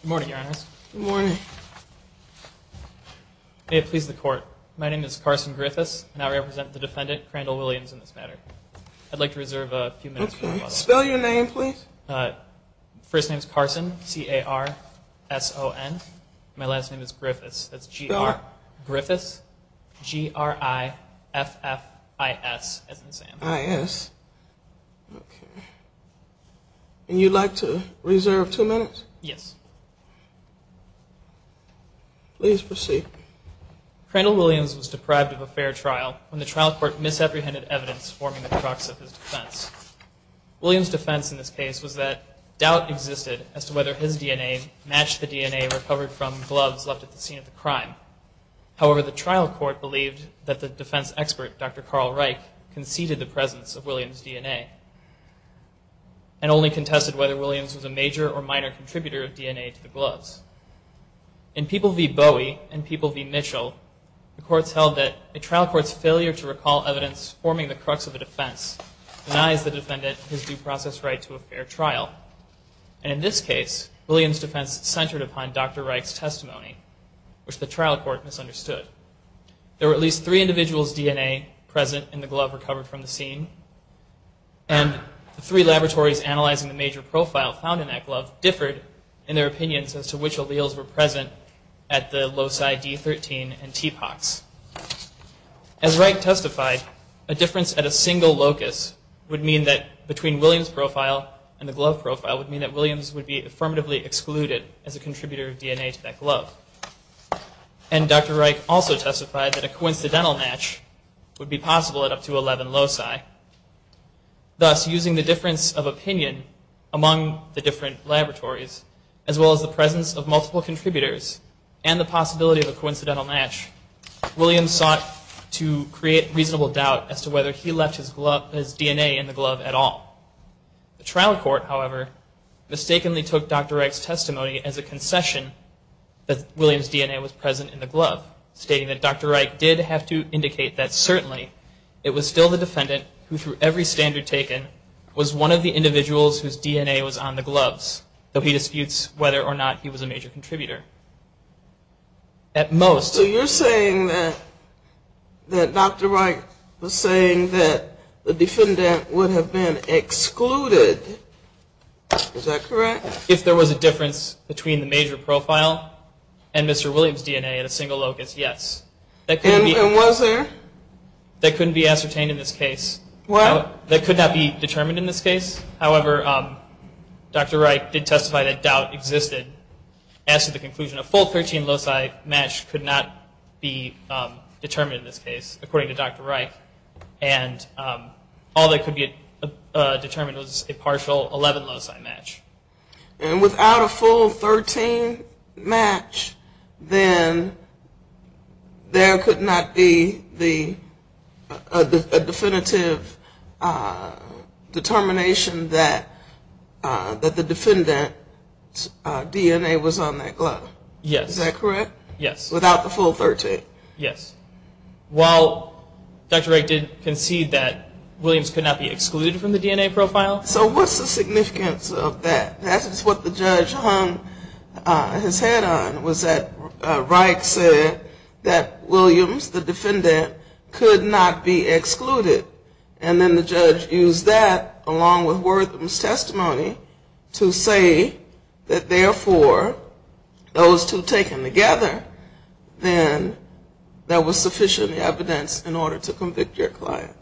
Good morning, your honors. Good morning. May it please the court, my name is Carson Griffiths, and I represent the defendant, Crandall Williams, in this matter. I'd like to reserve a few minutes. Spell your name, please. First name's Carson, C-A-R-S-O-N. My last name is Griffiths, that's G-R-I-F-F-I-S, as in Sam. And you'd like to reserve two minutes? Yes. Please proceed. Crandall Williams was deprived of a fair trial when the trial court misapprehended evidence forming the crux of his defense. Williams' defense in this case was that doubt existed as to whether his DNA matched the DNA recovered from gloves left at the scene of the crime. However, the trial court believed that the defense expert, Dr. Carl Reich, conceded the presence of Williams' DNA, and only contested whether Williams was a major or minor contributor of DNA to the gloves. In People v. Bowie and People v. Mitchell, the courts held that a trial court's failure to recall evidence forming the crux of a defense denies the defendant his due process right to a fair trial. And in this case, Williams' defense centered upon Dr. Reich's testimony, which the trial court misunderstood. There were at least three individuals' DNA present in the glove recovered from the scene, and the three laboratories analyzing the major profile found in that glove differed in their opinions as to which alleles were present at the loci D13 and TPOX. As Reich testified, a difference at a single locus would mean that between Williams' profile and the glove profile would mean that Williams would be affirmatively excluded as a contributor of DNA to that glove. And Dr. Reich also testified that a coincidental match would be possible at up to 11 loci. Thus, using the difference of opinion among the different laboratories, as well as the presence of multiple contributors, and the possibility of a coincidental match, Williams sought to create reasonable doubt as to whether he left his DNA in the glove at all. The trial court, however, mistakenly took Dr. Reich's testimony as a concession that Williams' DNA was present in the glove, stating that Dr. Reich did have to indicate that certainly it was still the defendant who, through every standard taken, was one of the individuals whose DNA was on the gloves, though he disputes whether or not he was a major contributor. At most... So you're saying that Dr. Reich was saying that the defendant would have been excluded, is that correct? If there was a difference between the major profile and Mr. Williams' DNA at a single locus, yes. And was there? That couldn't be ascertained in this case. Well... That could not be determined in this case. However, Dr. Reich did testify that doubt existed. As to the conclusion, a full 13-loci match could not be determined in this case, according to Dr. Reich. And all that could be determined was a partial 11-loci match. And without a full 13 match, then there could not be a definitive determination that the defendant's DNA was on that glove. Yes. Is that correct? Yes. Without the full 13? Yes. While Dr. Reich did concede that Williams could not be excluded from the DNA profile... So what's the significance of that? That is what the judge hung his head on, was that Reich said that Williams, the defendant, could not be excluded. And then the judge used that, along with Wortham's testimony, to say that, therefore, those two taken together, then there was sufficient evidence in order to convict your client.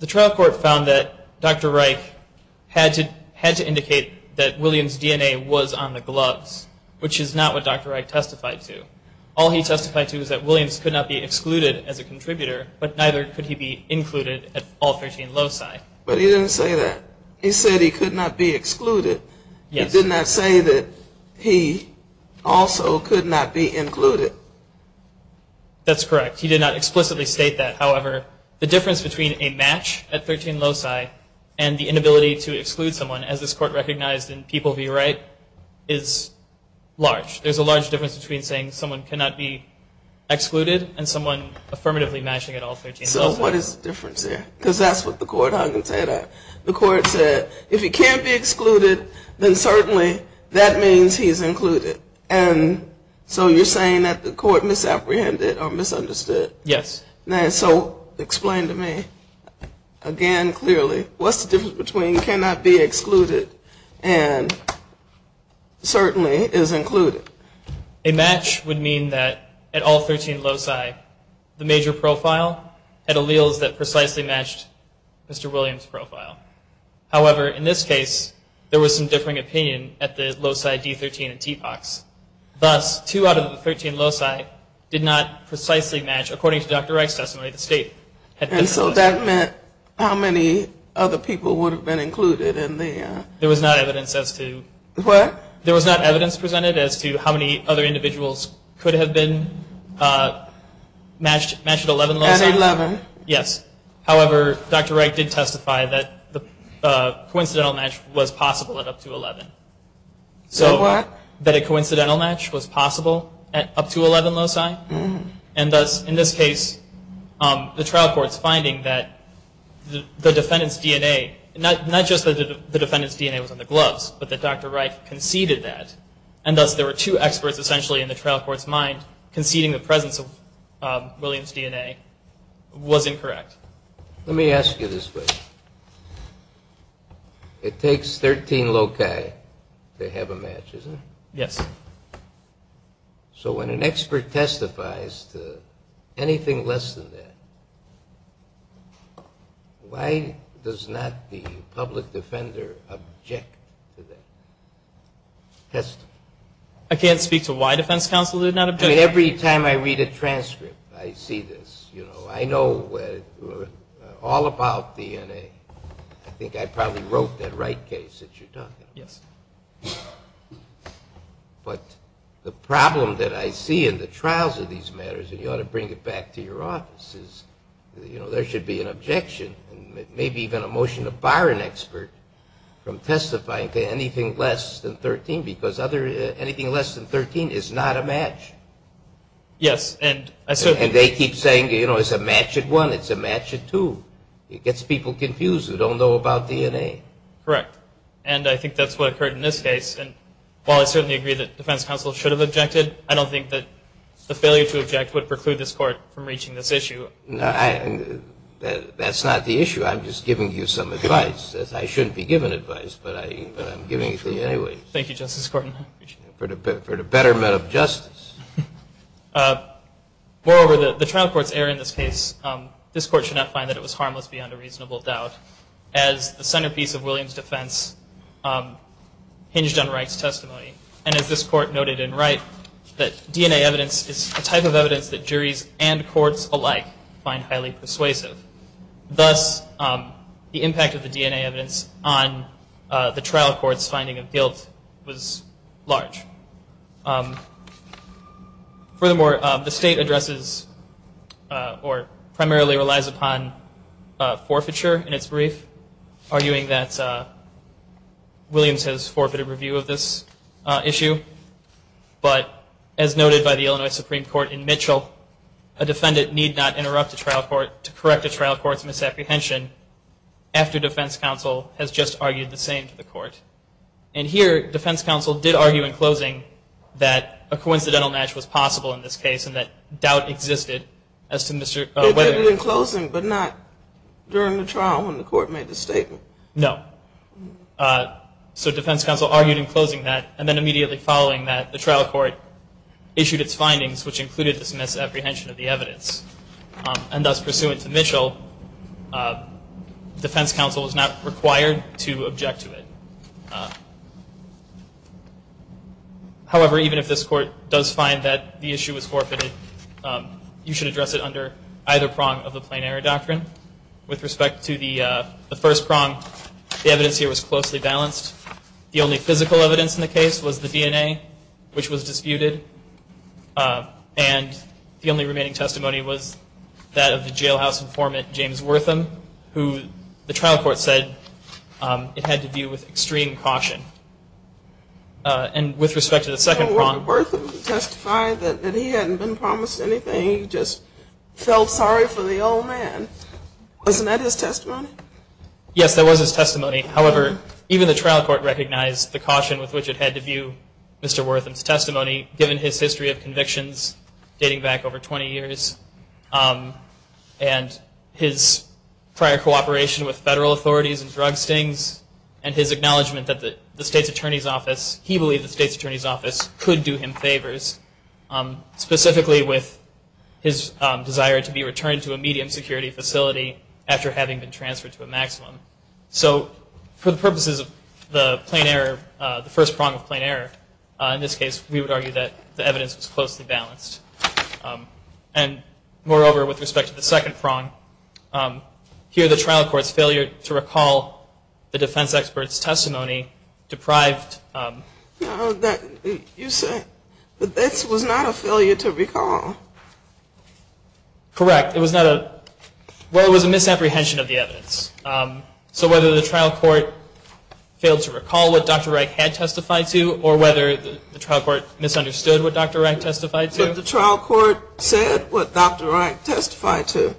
The trial court found that Dr. Reich had to indicate that Williams' DNA was on the gloves, which is not what Dr. Reich testified to. All he testified to was that Williams could not be excluded as a contributor, but neither could he be included at all 13-loci. But he didn't say that. He said he could not be excluded. He did not say that he also could not be included. That's correct. He did not explicitly state that. However, the difference between a match at 13-loci and the inability to exclude someone, as this court recognized in People v. Wright, is large. There's a large difference between saying someone cannot be excluded and someone affirmatively matching at all 13-loci. So what is the difference there? Because that's what the court hung his head on. The court said, if he can't be excluded, then certainly that means he's included. And so you're saying that the court misapprehended or misunderstood? Yes. And so explain to me again clearly, what's the difference between cannot be excluded and certainly is included? A match would mean that at all 13-loci, the major profile had alleles that precisely matched Mr. Williams' profile. However, in this case, there was some differing opinion at the loci D13 and TPOCS. Thus, two out of the 13-loci did not precisely match. According to Dr. Wright's testimony, the state had been excluded. And so that meant how many other people would have been included in the? There was not evidence as to. What? There was not evidence presented as to how many other individuals could have been matched at 11-loci. At 11? Yes. However, Dr. Wright did testify that the coincidental match was possible at up to 11. So what? That a coincidental match was possible at up to 11-loci. And thus, in this case, the trial court's finding that the defendant's DNA, not just that the defendant's DNA was on the gloves, but that Dr. Wright conceded that. And thus, there were two experts essentially in the trial court's mind conceding the presence of Williams' DNA was incorrect. Let me ask you this question. It takes 13-loci to have a match, isn't it? Yes. So when an expert testifies to anything less than that, why does not the public defender object to that testimony? I can't speak to why defense counsel did not object. Every time I read a transcript, I see this. I know all about DNA. I think I probably wrote that right case that you're talking about. Yes. But the problem that I see in the trials of these matters, and you ought to bring it back to your office, is there should be an objection, maybe even a motion to bar an expert from testifying to anything less than 13 because anything less than 13 is not a match. Yes. And they keep saying, you know, it's a match at one, it's a match at two. It gets people confused who don't know about DNA. Correct. And I think that's what occurred in this case. And while I certainly agree that defense counsel should have objected, I don't think that the failure to object would preclude this court from reaching this issue. That's not the issue. I'm just giving you some advice. I shouldn't be giving advice, but I'm giving it to you anyway. Thank you, Justice Corton. For the betterment of justice. Moreover, the trial court's error in this case, this court should not find that it was harmless beyond a reasonable doubt, as the centerpiece of Williams' defense hinged on Wright's testimony. And as this court noted in Wright, that DNA evidence is a type of evidence that juries and courts alike find highly persuasive. Thus, the impact of the DNA evidence on the trial court's finding of guilt was large. Furthermore, the state addresses or primarily relies upon forfeiture in its brief, arguing that Williams has forfeited review of this issue. But as noted by the Illinois Supreme Court in Mitchell, a defendant need not interrupt a trial court to correct a trial court's misapprehension after defense counsel has just argued the same to the court. And here, defense counsel did argue in closing that a coincidental match was possible in this case and that doubt existed as to whether- They did it in closing, but not during the trial when the court made the statement. No. So defense counsel argued in closing that, and then immediately following that the trial court issued its findings, which included the misapprehension of the evidence. And thus, pursuant to Mitchell, defense counsel was not required to object to it. However, even if this court does find that the issue was forfeited, you should address it under either prong of the plain error doctrine. With respect to the first prong, the evidence here was closely balanced. The only physical evidence in the case was the DNA, which was disputed. And the only remaining testimony was that of the jailhouse informant, James Wortham, who the trial court said it had to view with extreme caution. And with respect to the second prong- Well, Wortham testified that he hadn't been promised anything. He just felt sorry for the old man. Wasn't that his testimony? Yes, that was his testimony. However, even the trial court recognized the caution with which it had to view Mr. Wortham's testimony given his history of convictions dating back over 20 years and his prior cooperation with federal authorities and drug stings and his acknowledgment that the state's attorney's office- he believed the state's attorney's office could do him favors, specifically with his desire to be returned to a medium security facility after having been transferred to a maximum. So, for the purposes of the plain error- the first prong of plain error, in this case we would argue that the evidence was closely balanced. And moreover, with respect to the second prong, here the trial court's failure to recall the defense expert's testimony deprived- No, you said that this was not a failure to recall. Correct. Well, it was a misapprehension of the evidence. So whether the trial court failed to recall what Dr. Reich had testified to or whether the trial court misunderstood what Dr. Reich testified to? The trial court said what Dr. Reich testified to.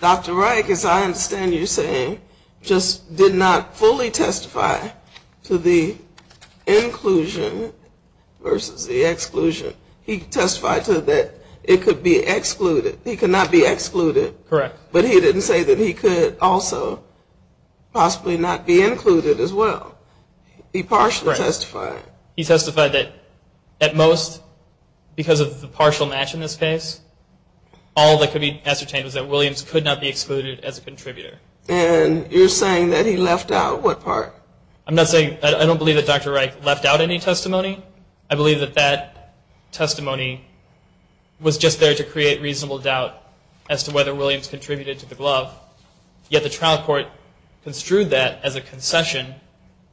Dr. Reich, as I understand you saying, just did not fully testify to the inclusion versus the exclusion. He testified to that it could be excluded. He could not be excluded. Correct. But he didn't say that he could also possibly not be included as well. He partially testified. He testified that at most, because of the partial match in this case, all that could be ascertained was that Williams could not be excluded as a contributor. And you're saying that he left out what part? I'm not saying- I don't believe that Dr. Reich left out any testimony. I believe that that testimony was just there to create reasonable doubt as to whether Williams contributed to the glove. Yet the trial court construed that as a concession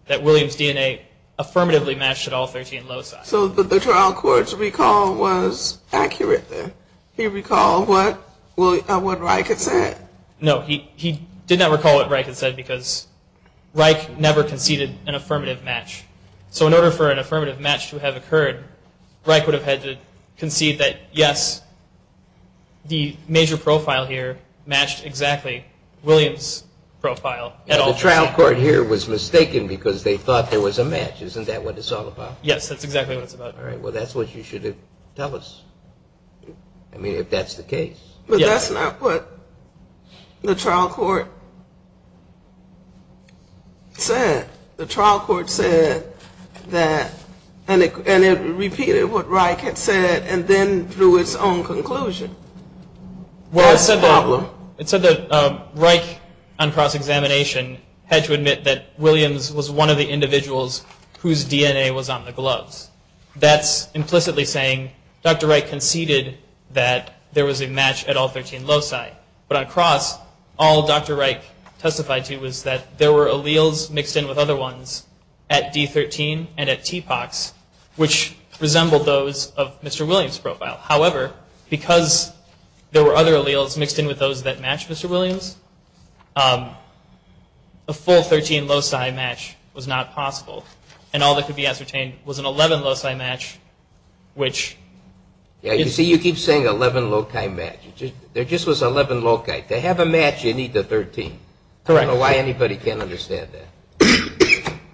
that Williams' DNA affirmatively matched at all 13 loci. So the trial court's recall was accurate then? He recalled what Reich had said? No, he did not recall what Reich had said because Reich never conceded an affirmative match. So in order for an affirmative match to have occurred, Reich would have had to concede that, yes, the major profile here matched exactly Williams' profile at all. The trial court here was mistaken because they thought there was a match. Isn't that what it's all about? Yes, that's exactly what it's about. All right. Well, that's what you should have told us. I mean, if that's the case. But that's not what the trial court said. The trial court said that and it repeated what Reich had said and then drew its own conclusion. Well, it said that Reich, on cross-examination, had to admit that Williams was one of the individuals whose DNA was on the gloves. That's implicitly saying Dr. Reich conceded that there was a match at all 13 loci. But on cross, all Dr. Reich testified to was that there were alleles mixed in with other ones at D13 and at TPOX, which resembled those of Mr. Williams' profile. However, because there were other alleles mixed in with those that matched Mr. Williams, a full 13 loci match was not possible. And all that could be ascertained was an 11 loci match, which – Yeah, you see, you keep saying 11 loci match. There just was 11 loci. To have a match, you need the 13. Correct. I don't know why anybody can't understand that.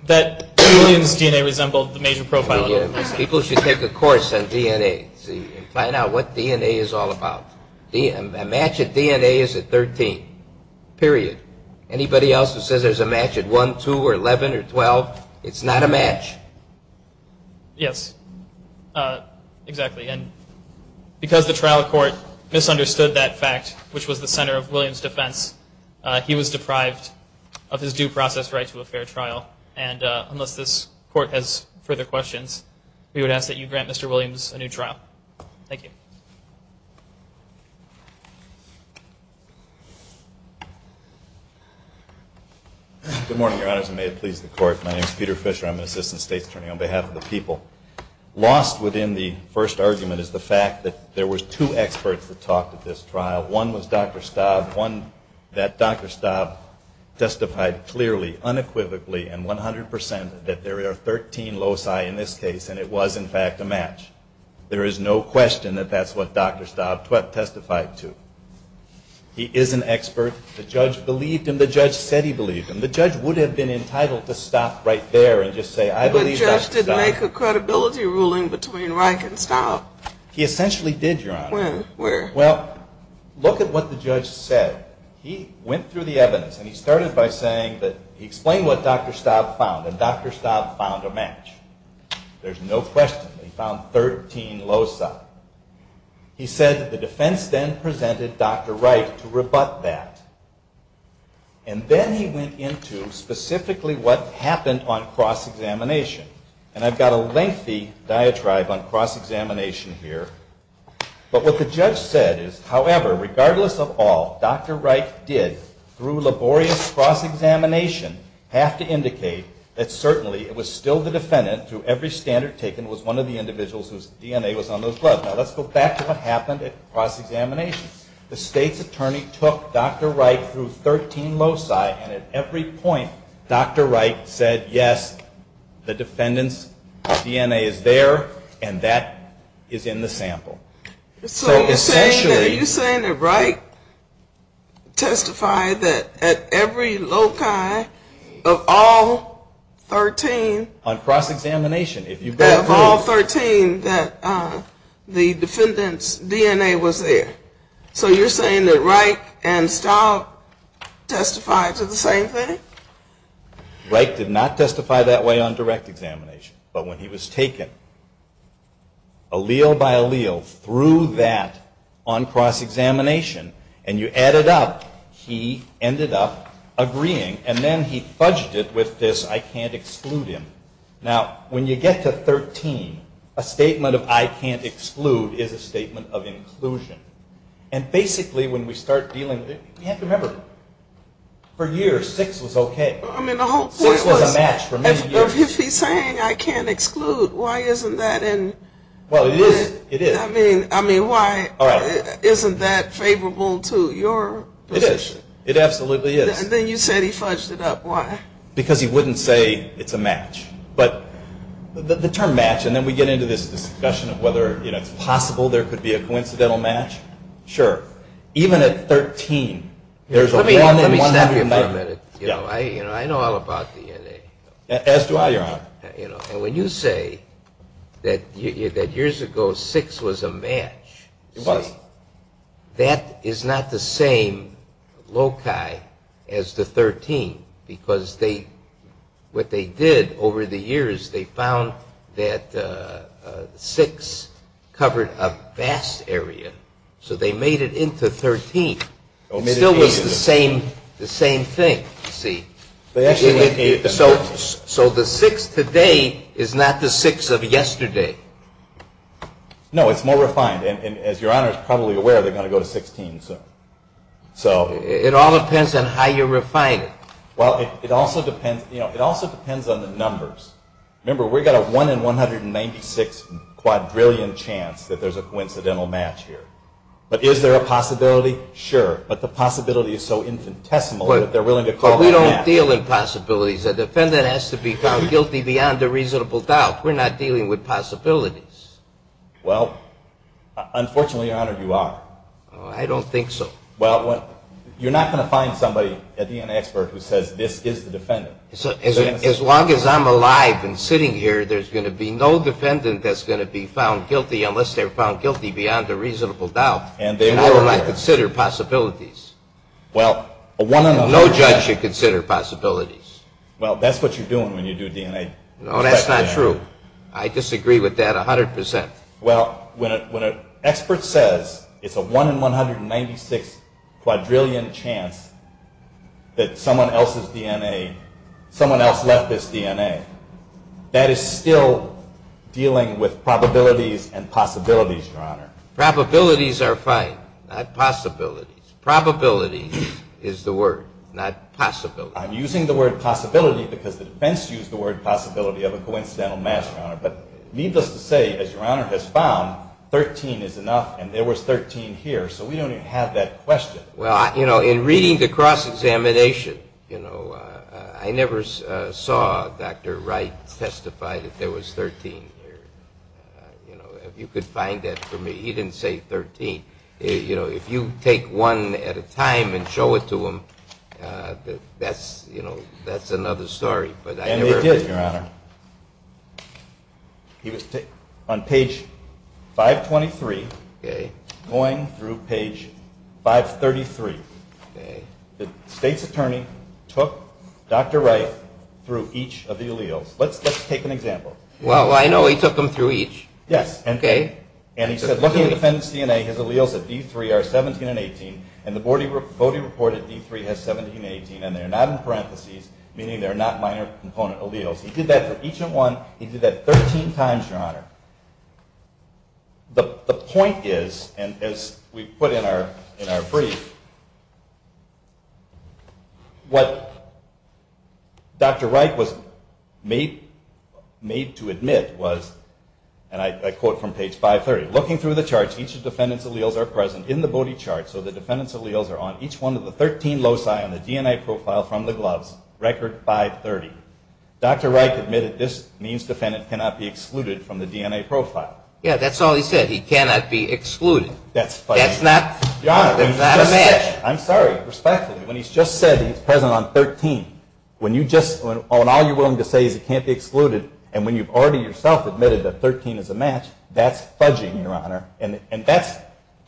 That Williams' DNA resembled the major profile of Williams. People should take a course on DNA and find out what DNA is all about. A match at DNA is at 13, period. Anybody else who says there's a match at 1, 2, or 11, or 12, it's not a match. Yes, exactly. And because the trial court misunderstood that fact, which was the center of Williams' defense, he was deprived of his due process right to a fair trial. And unless this court has further questions, we would ask that you grant Mr. Williams a new trial. Thank you. Good morning, Your Honors, and may it please the Court. My name is Peter Fisher. I'm an Assistant State's Attorney on behalf of the people. Lost within the first argument is the fact that there were two experts that talked at this trial. One was Dr. Staub. That Dr. Staub testified clearly, unequivocally, and 100% that there are 13 loci in this case, and it was, in fact, a match. There is no question that that's what Dr. Staub testified to. He is an expert. The judge believed him. The judge said he believed him. The judge would have been entitled to stop right there and just say, The judge did make a credibility ruling between Reich and Staub. He essentially did, Your Honor. When? Where? Well, look at what the judge said. He went through the evidence, and he started by saying that he explained what Dr. Staub found, and Dr. Staub found a match. There's no question. He found 13 loci. He said that the defense then presented Dr. Reich to rebut that, and then he went into specifically what happened on cross-examination, and I've got a lengthy diatribe on cross-examination here, but what the judge said is, However, regardless of all, Dr. Reich did, through laborious cross-examination, have to indicate that certainly it was still the defendant, through every standard taken, was one of the individuals whose DNA was on those bloods. Now, let's go back to what happened at cross-examination. The state's attorney took Dr. Reich through 13 loci, and at every point, Dr. Reich said, Yes, the defendant's DNA is there, and that is in the sample. So you're saying that Reich testified that at every loci of all 13? On cross-examination. Of all 13 that the defendant's DNA was there. So you're saying that Reich and Stout testified to the same thing? Reich did not testify that way on direct examination, but when he was taken allele by allele through that on cross-examination, and you add it up, he ended up agreeing, and then he fudged it with this, I can't exclude him. Now, when you get to 13, a statement of I can't exclude is a statement of inclusion. And basically, when we start dealing with it, you have to remember, for years, six was okay. Six was a match for many years. If he's saying I can't exclude, why isn't that in? Well, it is. I mean, why isn't that favorable to your position? It is. It absolutely is. Then you said he fudged it up. Why? Because he wouldn't say it's a match. But the term match, and then we get into this discussion of whether it's possible there could be a coincidental match. Sure. Even at 13, there's a one in 100. Let me stop you for a minute. I know all about DNA. As do I, Your Honor. And when you say that years ago six was a match, that is not the same loci as the 13, because what they did over the years, they found that six covered a vast area, so they made it into 13. It still was the same thing. So the six today is not the six of yesterday. No, it's more refined. And as Your Honor is probably aware, they're going to go to 16 soon. It all depends on how you refine it. Well, it also depends on the numbers. Remember, we've got a one in 196 quadrillion chance that there's a coincidental match here. But is there a possibility? Sure. But the possibility is so infinitesimal that they're willing to call it a match. But we don't deal in possibilities. A defendant has to be found guilty beyond a reasonable doubt. We're not dealing with possibilities. Well, unfortunately, Your Honor, you are. I don't think so. Well, you're not going to find somebody, a DNA expert, who says this is the defendant. As long as I'm alive and sitting here, there's going to be no defendant that's going to be found guilty unless they're found guilty beyond a reasonable doubt, and I will not consider possibilities. Well, one another. No judge should consider possibilities. Well, that's what you're doing when you do DNA. No, that's not true. I disagree with that 100%. Well, when an expert says it's a one in 196 quadrillion chance that someone else's DNA, someone else left this DNA, that is still dealing with probabilities and possibilities, Your Honor. Probabilities are fine, not possibilities. Probability is the word, not possibility. I'm using the word possibility because the defense used the word possibility of a coincidental mass, Your Honor. But needless to say, as Your Honor has found, 13 is enough and there was 13 here, so we don't even have that question. Well, you know, in reading the cross-examination, you know, I never saw Dr. Wright testify that there was 13 here. You know, if you could find that for me. He didn't say 13. If you take one at a time and show it to him, that's another story. And he did, Your Honor. He was on page 523 going through page 533. The state's attorney took Dr. Wright through each of the alleles. Let's take an example. Well, I know. He took him through each. Yes. Okay. And he said, looking at the defendant's DNA, his alleles at D3 are 17 and 18, and the body reported D3 has 17 and 18, and they're not in parentheses, meaning they're not minor component alleles. He did that for each one. He did that 13 times, Your Honor. The point is, and as we put in our brief, what Dr. Wright was made to admit was, and I quote from page 530, looking through the charts, each of the defendant's alleles are present in the body chart, so the defendant's alleles are on each one of the 13 loci on the DNA profile from the gloves, record 530. Dr. Wright admitted this means defendant cannot be excluded from the DNA profile. Yeah, that's all he said. He cannot be excluded. That's funny. That's not a man. I'm sorry. Respectfully, when he's just said he's present on 13, when all you're willing to say is he can't be excluded, and when you've already yourself admitted that 13 is a match, that's fudging, Your Honor, and that's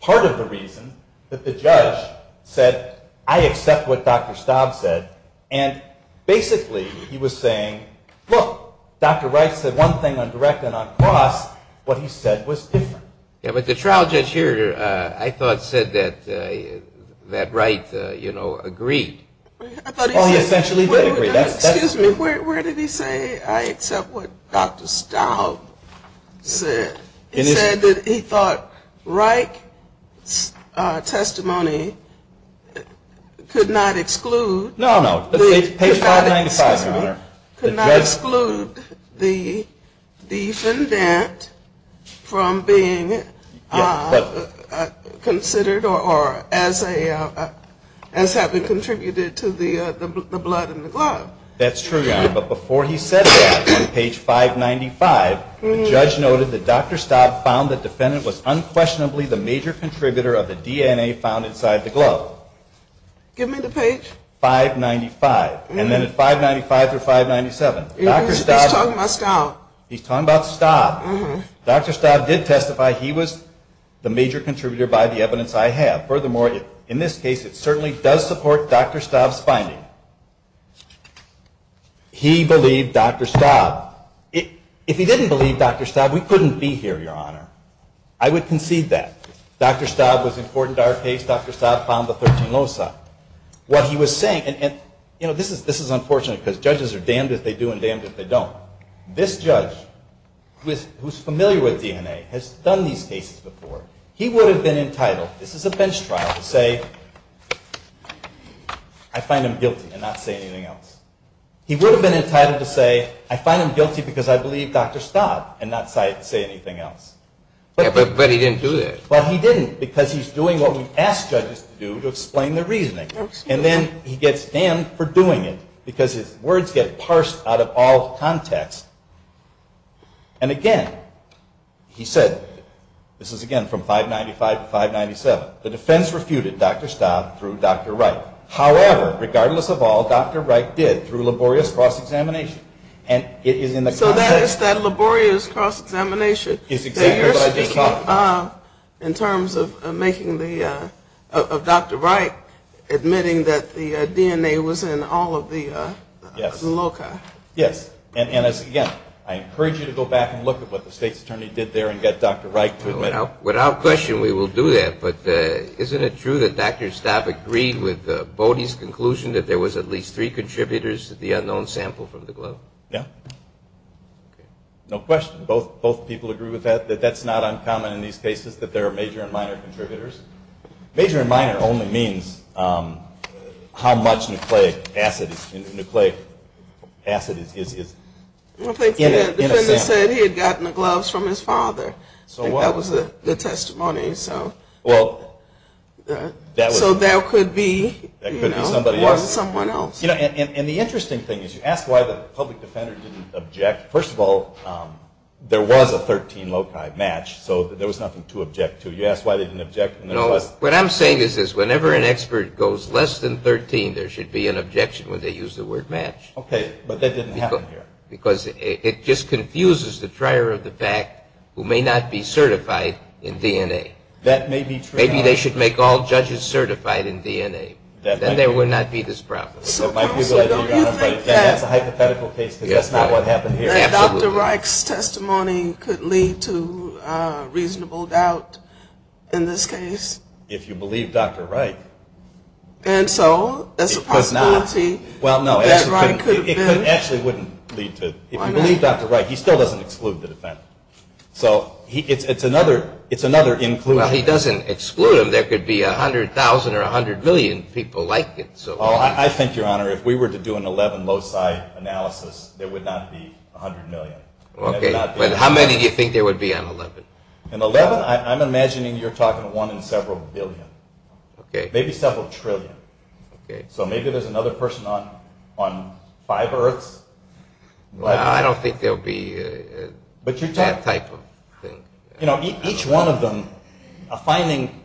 part of the reason that the judge said, I accept what Dr. Staub said, and basically he was saying, look, Dr. Wright said one thing on direct and on cross. What he said was different. Yeah, but the trial judge here I thought said that Wright, you know, agreed. Oh, he essentially did agree. Excuse me. Where did he say I accept what Dr. Staub said? He said that he thought Wright's testimony could not exclude. No, no. Page 595, Your Honor. Could not exclude the defendant from being considered or as having contributed to the blood in the glove. That's true, Your Honor, but before he said that on page 595, the judge noted that Dr. Staub found the defendant was unquestionably the major contributor of the DNA found inside the glove. Give me the page. Page 595, and then at 595 through 597. He's talking about Staub. He's talking about Staub. Dr. Staub did testify he was the major contributor by the evidence I have. Furthermore, in this case, it certainly does support Dr. Staub's finding. He believed Dr. Staub. If he didn't believe Dr. Staub, we couldn't be here, Your Honor. I would concede that. Dr. Staub was important to our case. Dr. Staub found the 13 low side. What he was saying, and, you know, this is unfortunate because judges are damned if they do and damned if they don't. This judge, who's familiar with DNA, has done these cases before. He would have been entitled, this is a bench trial, to say, I find him guilty and not say anything else. He would have been entitled to say, I find him guilty because I believe Dr. Staub and not say anything else. But he didn't do that. That's what we ask judges to do, to explain their reasoning. And then he gets damned for doing it because his words get parsed out of all context. And, again, he said, this is, again, from 595 to 597, the defense refuted Dr. Staub through Dr. Wright. However, regardless of all, Dr. Wright did through laborious cross-examination. So that is that laborious cross-examination that you're speaking of in terms of Dr. Wright admitting that the DNA was in all of the loci. Yes. And, again, I encourage you to go back and look at what the state's attorney did there and get Dr. Wright to admit it. Without question, we will do that. But isn't it true that Dr. Staub agreed with Bodie's conclusion that there was at least three contributors to the unknown sample from the globe? Yeah. No question. Both people agree with that, that that's not uncommon in these cases, that there are major and minor contributors? Major and minor only means how much nucleic acid is in a sample. The defender said he had gotten the gloves from his father. I think that was the testimony. So that could be someone else. And the interesting thing is you ask why the public defender didn't object. First of all, there was a 13-loci match, so there was nothing to object to. You ask why they didn't object, and there was. What I'm saying is this. Whenever an expert goes less than 13, there should be an objection when they use the word match. Okay, but that didn't happen here. Because it just confuses the trier of the fact who may not be certified in DNA. That may be true. Maybe they should make all judges certified in DNA. Then there would not be this problem. So don't you think that Dr. Reich's testimony could lead to reasonable doubt in this case? If you believe Dr. Reich. And so there's a possibility that Reich could have been. It actually wouldn't lead to. If you believe Dr. Reich, he still doesn't exclude the defendant. So it's another inclusion. Well, he doesn't exclude him. There could be 100,000 or 100 million people like him. I think, Your Honor, if we were to do an 11 loci analysis, there would not be 100 million. Okay, but how many do you think there would be on 11? On 11, I'm imagining you're talking one in several billion. Okay. Maybe several trillion. Okay. So maybe there's another person on five Earths. Well, I don't think there will be that type of thing. You know, each one of them, a finding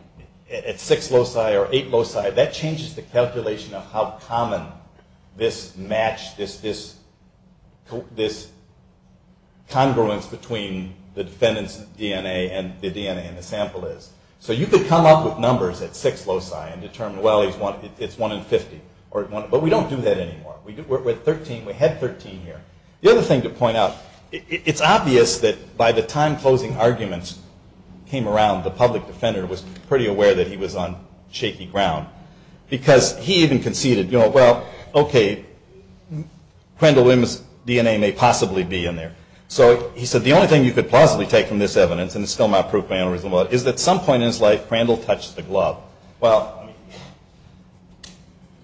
at six loci or eight loci, that changes the calculation of how common this match, this congruence between the defendant's DNA and the DNA in the sample is. So you could come up with numbers at six loci and determine, well, it's one in 50. But we don't do that anymore. We're at 13. We had 13 here. The other thing to point out, it's obvious that by the time closing arguments came around, the public defender was pretty aware that he was on shaky ground. Because he even conceded, you know, well, okay, Crandall Williams' DNA may possibly be in there. So he said the only thing you could possibly take from this evidence, and it's still my proof, my analysis, is that at some point in his life, Crandall touched the glove. Well,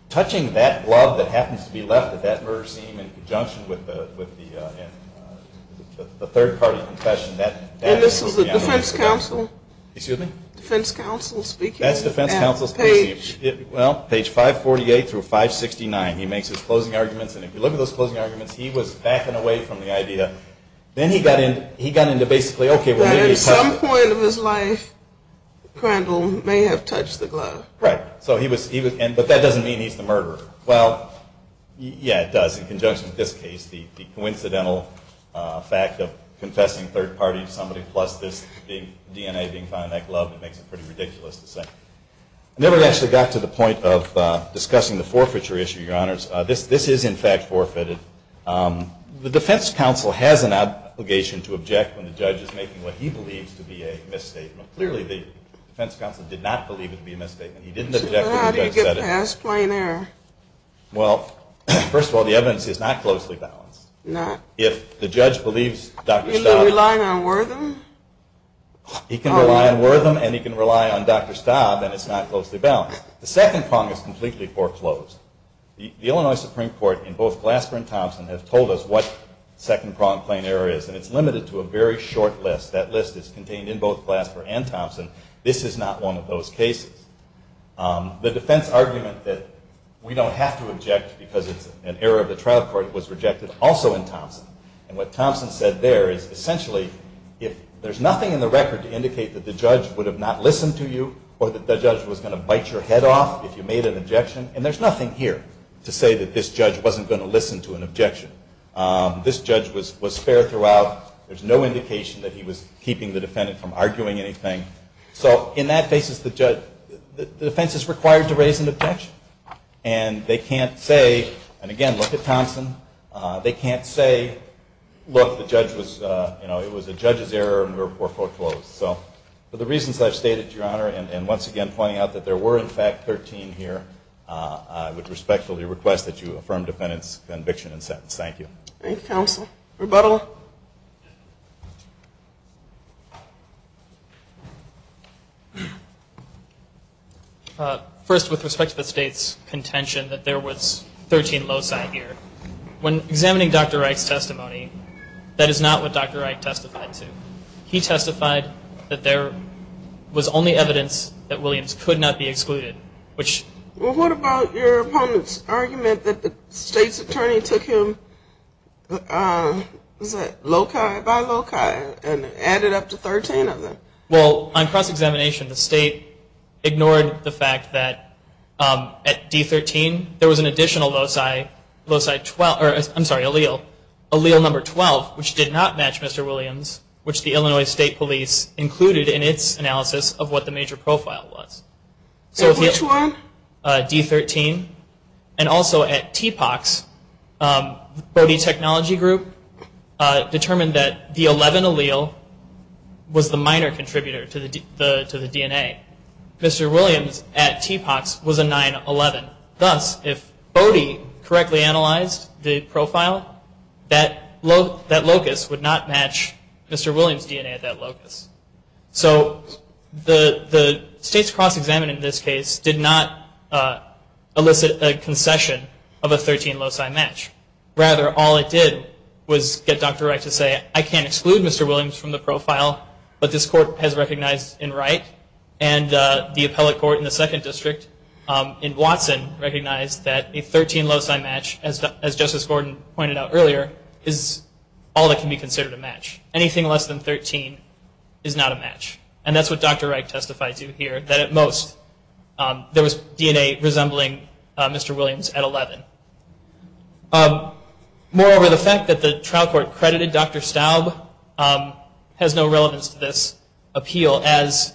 touching that glove that happens to be left at that murder scene in conjunction with the third-party confession, that is the evidence. And this was the defense counsel? Excuse me? Defense counsel speaking? That's defense counsel speaking. Page? Well, page 548 through 569. He makes his closing arguments. And if you look at those closing arguments, he was backing away from the idea. Then he got into basically, okay, well, maybe he touched it. At some point in his life, Crandall may have touched the glove. Right. But that doesn't mean he's the murderer. Well, yeah, it does, in conjunction with this case, the coincidental fact of confessing third-party to somebody, plus this DNA being found in that glove, it makes it pretty ridiculous to say. I never actually got to the point of discussing the forfeiture issue, Your Honors. This is, in fact, forfeited. The defense counsel has an obligation to object when the judge is making what he believes to be a misstatement. Clearly, the defense counsel did not believe it to be a misstatement. He didn't object when the judge said it. So how do you get past plain error? Well, first of all, the evidence is not closely balanced. Not? If the judge believes Dr. Staub. He can rely on Wertham? He can rely on Wertham, and he can rely on Dr. Staub, and it's not closely balanced. The second problem is completely foreclosed. The Illinois Supreme Court, in both Glasper and Thompson, has told us what second-pronged plain error is, and it's limited to a very short list. That list is contained in both Glasper and Thompson. This is not one of those cases. The defense argument that we don't have to object because it's an error of the trial court was rejected also in Thompson. And what Thompson said there is, essentially, if there's nothing in the record to indicate that the judge would have not listened to you or that the judge was going to bite your head off if you made an objection, and there's nothing here to say that this judge wasn't going to listen to an objection. This judge was fair throughout. There's no indication that he was keeping the defendant from arguing anything. So in that basis, the defense is required to raise an objection, and they can't say, and again, look at Thompson, they can't say, look, it was a judge's error and were foreclosed. So for the reasons I've stated, Your Honor, and once again pointing out that there were, in fact, 13 here, I would respectfully request that you affirm the defendant's conviction and sentence. Thank you. Thank you, counsel. Rebuttal. First, with respect to the State's contention that there was 13 loci here, when examining Dr. Wright's testimony, that is not what Dr. Wright testified to. He testified that there was only evidence that Williams could not be excluded. Well, what about your opponent's argument that the State's attorney took him loci by loci and added up to 13 of them? Well, on cross-examination, the State ignored the fact that at D13, there was an additional loci, loci 12, I'm sorry, allele, allele number 12, which did not match Mr. Williams, which the Illinois State Police included in its analysis of what the major profile was. So which one? D13, and also at TPOCS, the Bode Technology Group determined that the 11 allele was the minor contributor to the DNA. Mr. Williams at TPOCS was a 9-11. Thus, if Bode correctly analyzed the profile, that locus would not match Mr. Williams' DNA at that locus. So the State's cross-examination in this case did not elicit a concession of a 13 loci match. Rather, all it did was get Dr. Wright to say, I can't exclude Mr. Williams from the profile, but this court has recognized him right, and the appellate court in the second district, in Watson, recognized that a 13 loci match, as Justice Gordon pointed out earlier, is all that can be considered a match. Anything less than 13 is not a match. And that's what Dr. Wright testified to here, that at most there was DNA resembling Mr. Williams at 11. Moreover, the fact that the trial court credited Dr. Staub has no relevance to this appeal, as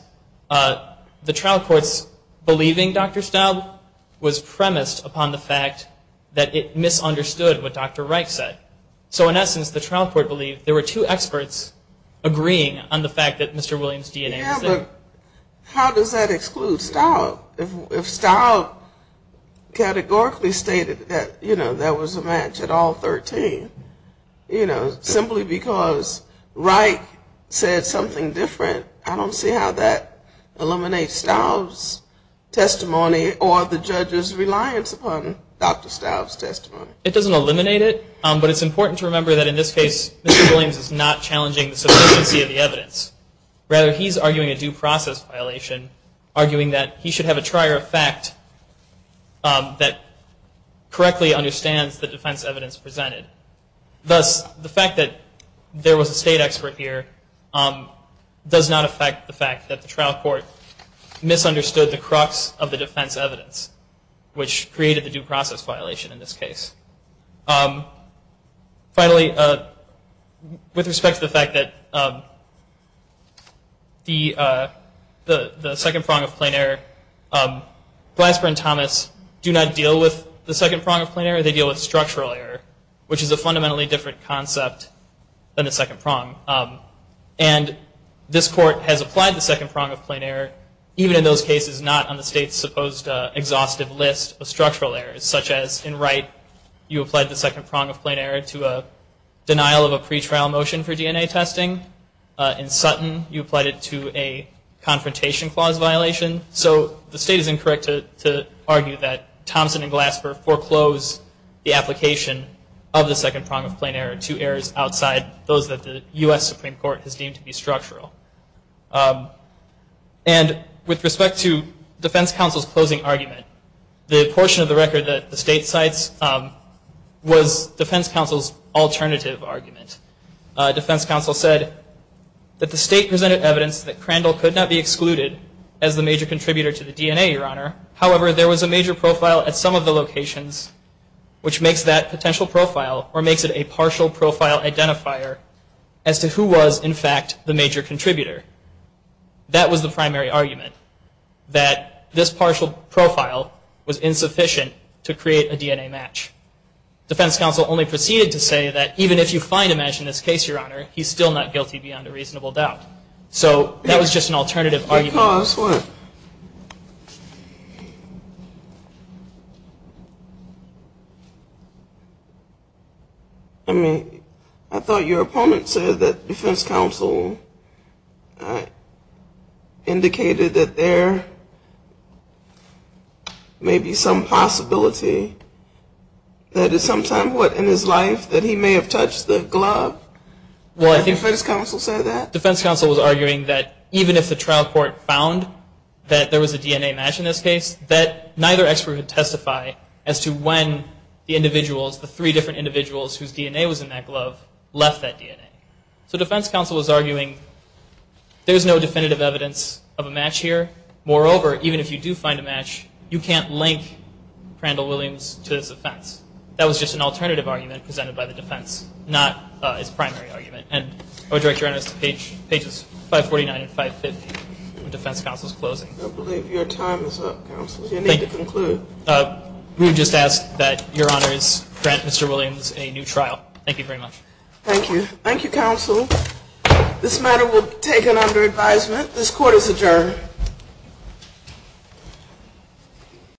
the trial court's believing Dr. Staub was premised upon the fact that it misunderstood what Dr. Wright said. So in essence, the trial court believed there were two experts agreeing on the fact that Mr. Williams' DNA was there. Yeah, but how does that exclude Staub? If Staub categorically stated that there was a match at all 13, you know, simply because Wright said something different, I don't see how that eliminates Staub's testimony or the judge's reliance upon Dr. Staub's testimony. It doesn't eliminate it, but it's important to remember that in this case, Mr. Williams is not challenging the sufficiency of the evidence. Rather, he's arguing a due process violation, arguing that he should have a trier of fact that correctly understands the defense evidence presented. Thus, the fact that there was a state expert here does not affect the fact that the trial court misunderstood the crux of the defense evidence, which created the due process violation in this case. Finally, with respect to the fact that the second prong of plain error, Glasper and Thomas do not deal with the second prong of plain error. They deal with structural error, which is a fundamentally different concept than the second prong. And this court has applied the second prong of plain error, even in those cases not on the state's supposed exhaustive list of structural errors, such as in Wright, you applied the second prong of plain error to a denial of a pretrial motion for DNA testing. In Sutton, you applied it to a confrontation clause violation. So the state is incorrect to argue that Thomson and Glasper foreclosed the application of the second prong of plain error to errors outside those that the U.S. Supreme Court has deemed to be structural. And with respect to defense counsel's closing argument, the portion of the record that the state cites was defense counsel's alternative argument. Defense counsel said that the state presented evidence that Crandall could not be excluded as the major contributor to the DNA, Your Honor. However, there was a major profile at some of the locations which makes that potential profile or makes it a partial profile identifier as to who was, in fact, the major contributor. That was the primary argument, that this partial profile was insufficient to create a DNA match. Defense counsel only proceeded to say that even if you find a match in this case, Your Honor, he's still not guilty beyond a reasonable doubt. So that was just an alternative argument. Because what? I mean, I thought your opponent said that defense counsel indicated that there may be some possibility that at some time, what, in his life that he may have touched the glove? I think defense counsel said that. Defense counsel was arguing that even if the trial court found that there was a DNA match in this case, that neither expert would testify as to when the individuals, the three different individuals whose DNA was in that glove, left that DNA. So defense counsel was arguing there's no definitive evidence of a match here. Moreover, even if you do find a match, you can't link Crandall Williams to this offense. That was just an alternative argument presented by the defense, not its primary argument. And I would direct your attention to pages 549 and 550 of defense counsel's closing. I believe your time is up, counsel. You need to conclude. We would just ask that Your Honors grant Mr. Williams a new trial. Thank you very much. Thank you. Thank you, counsel. This matter will be taken under advisement. This court is adjourned.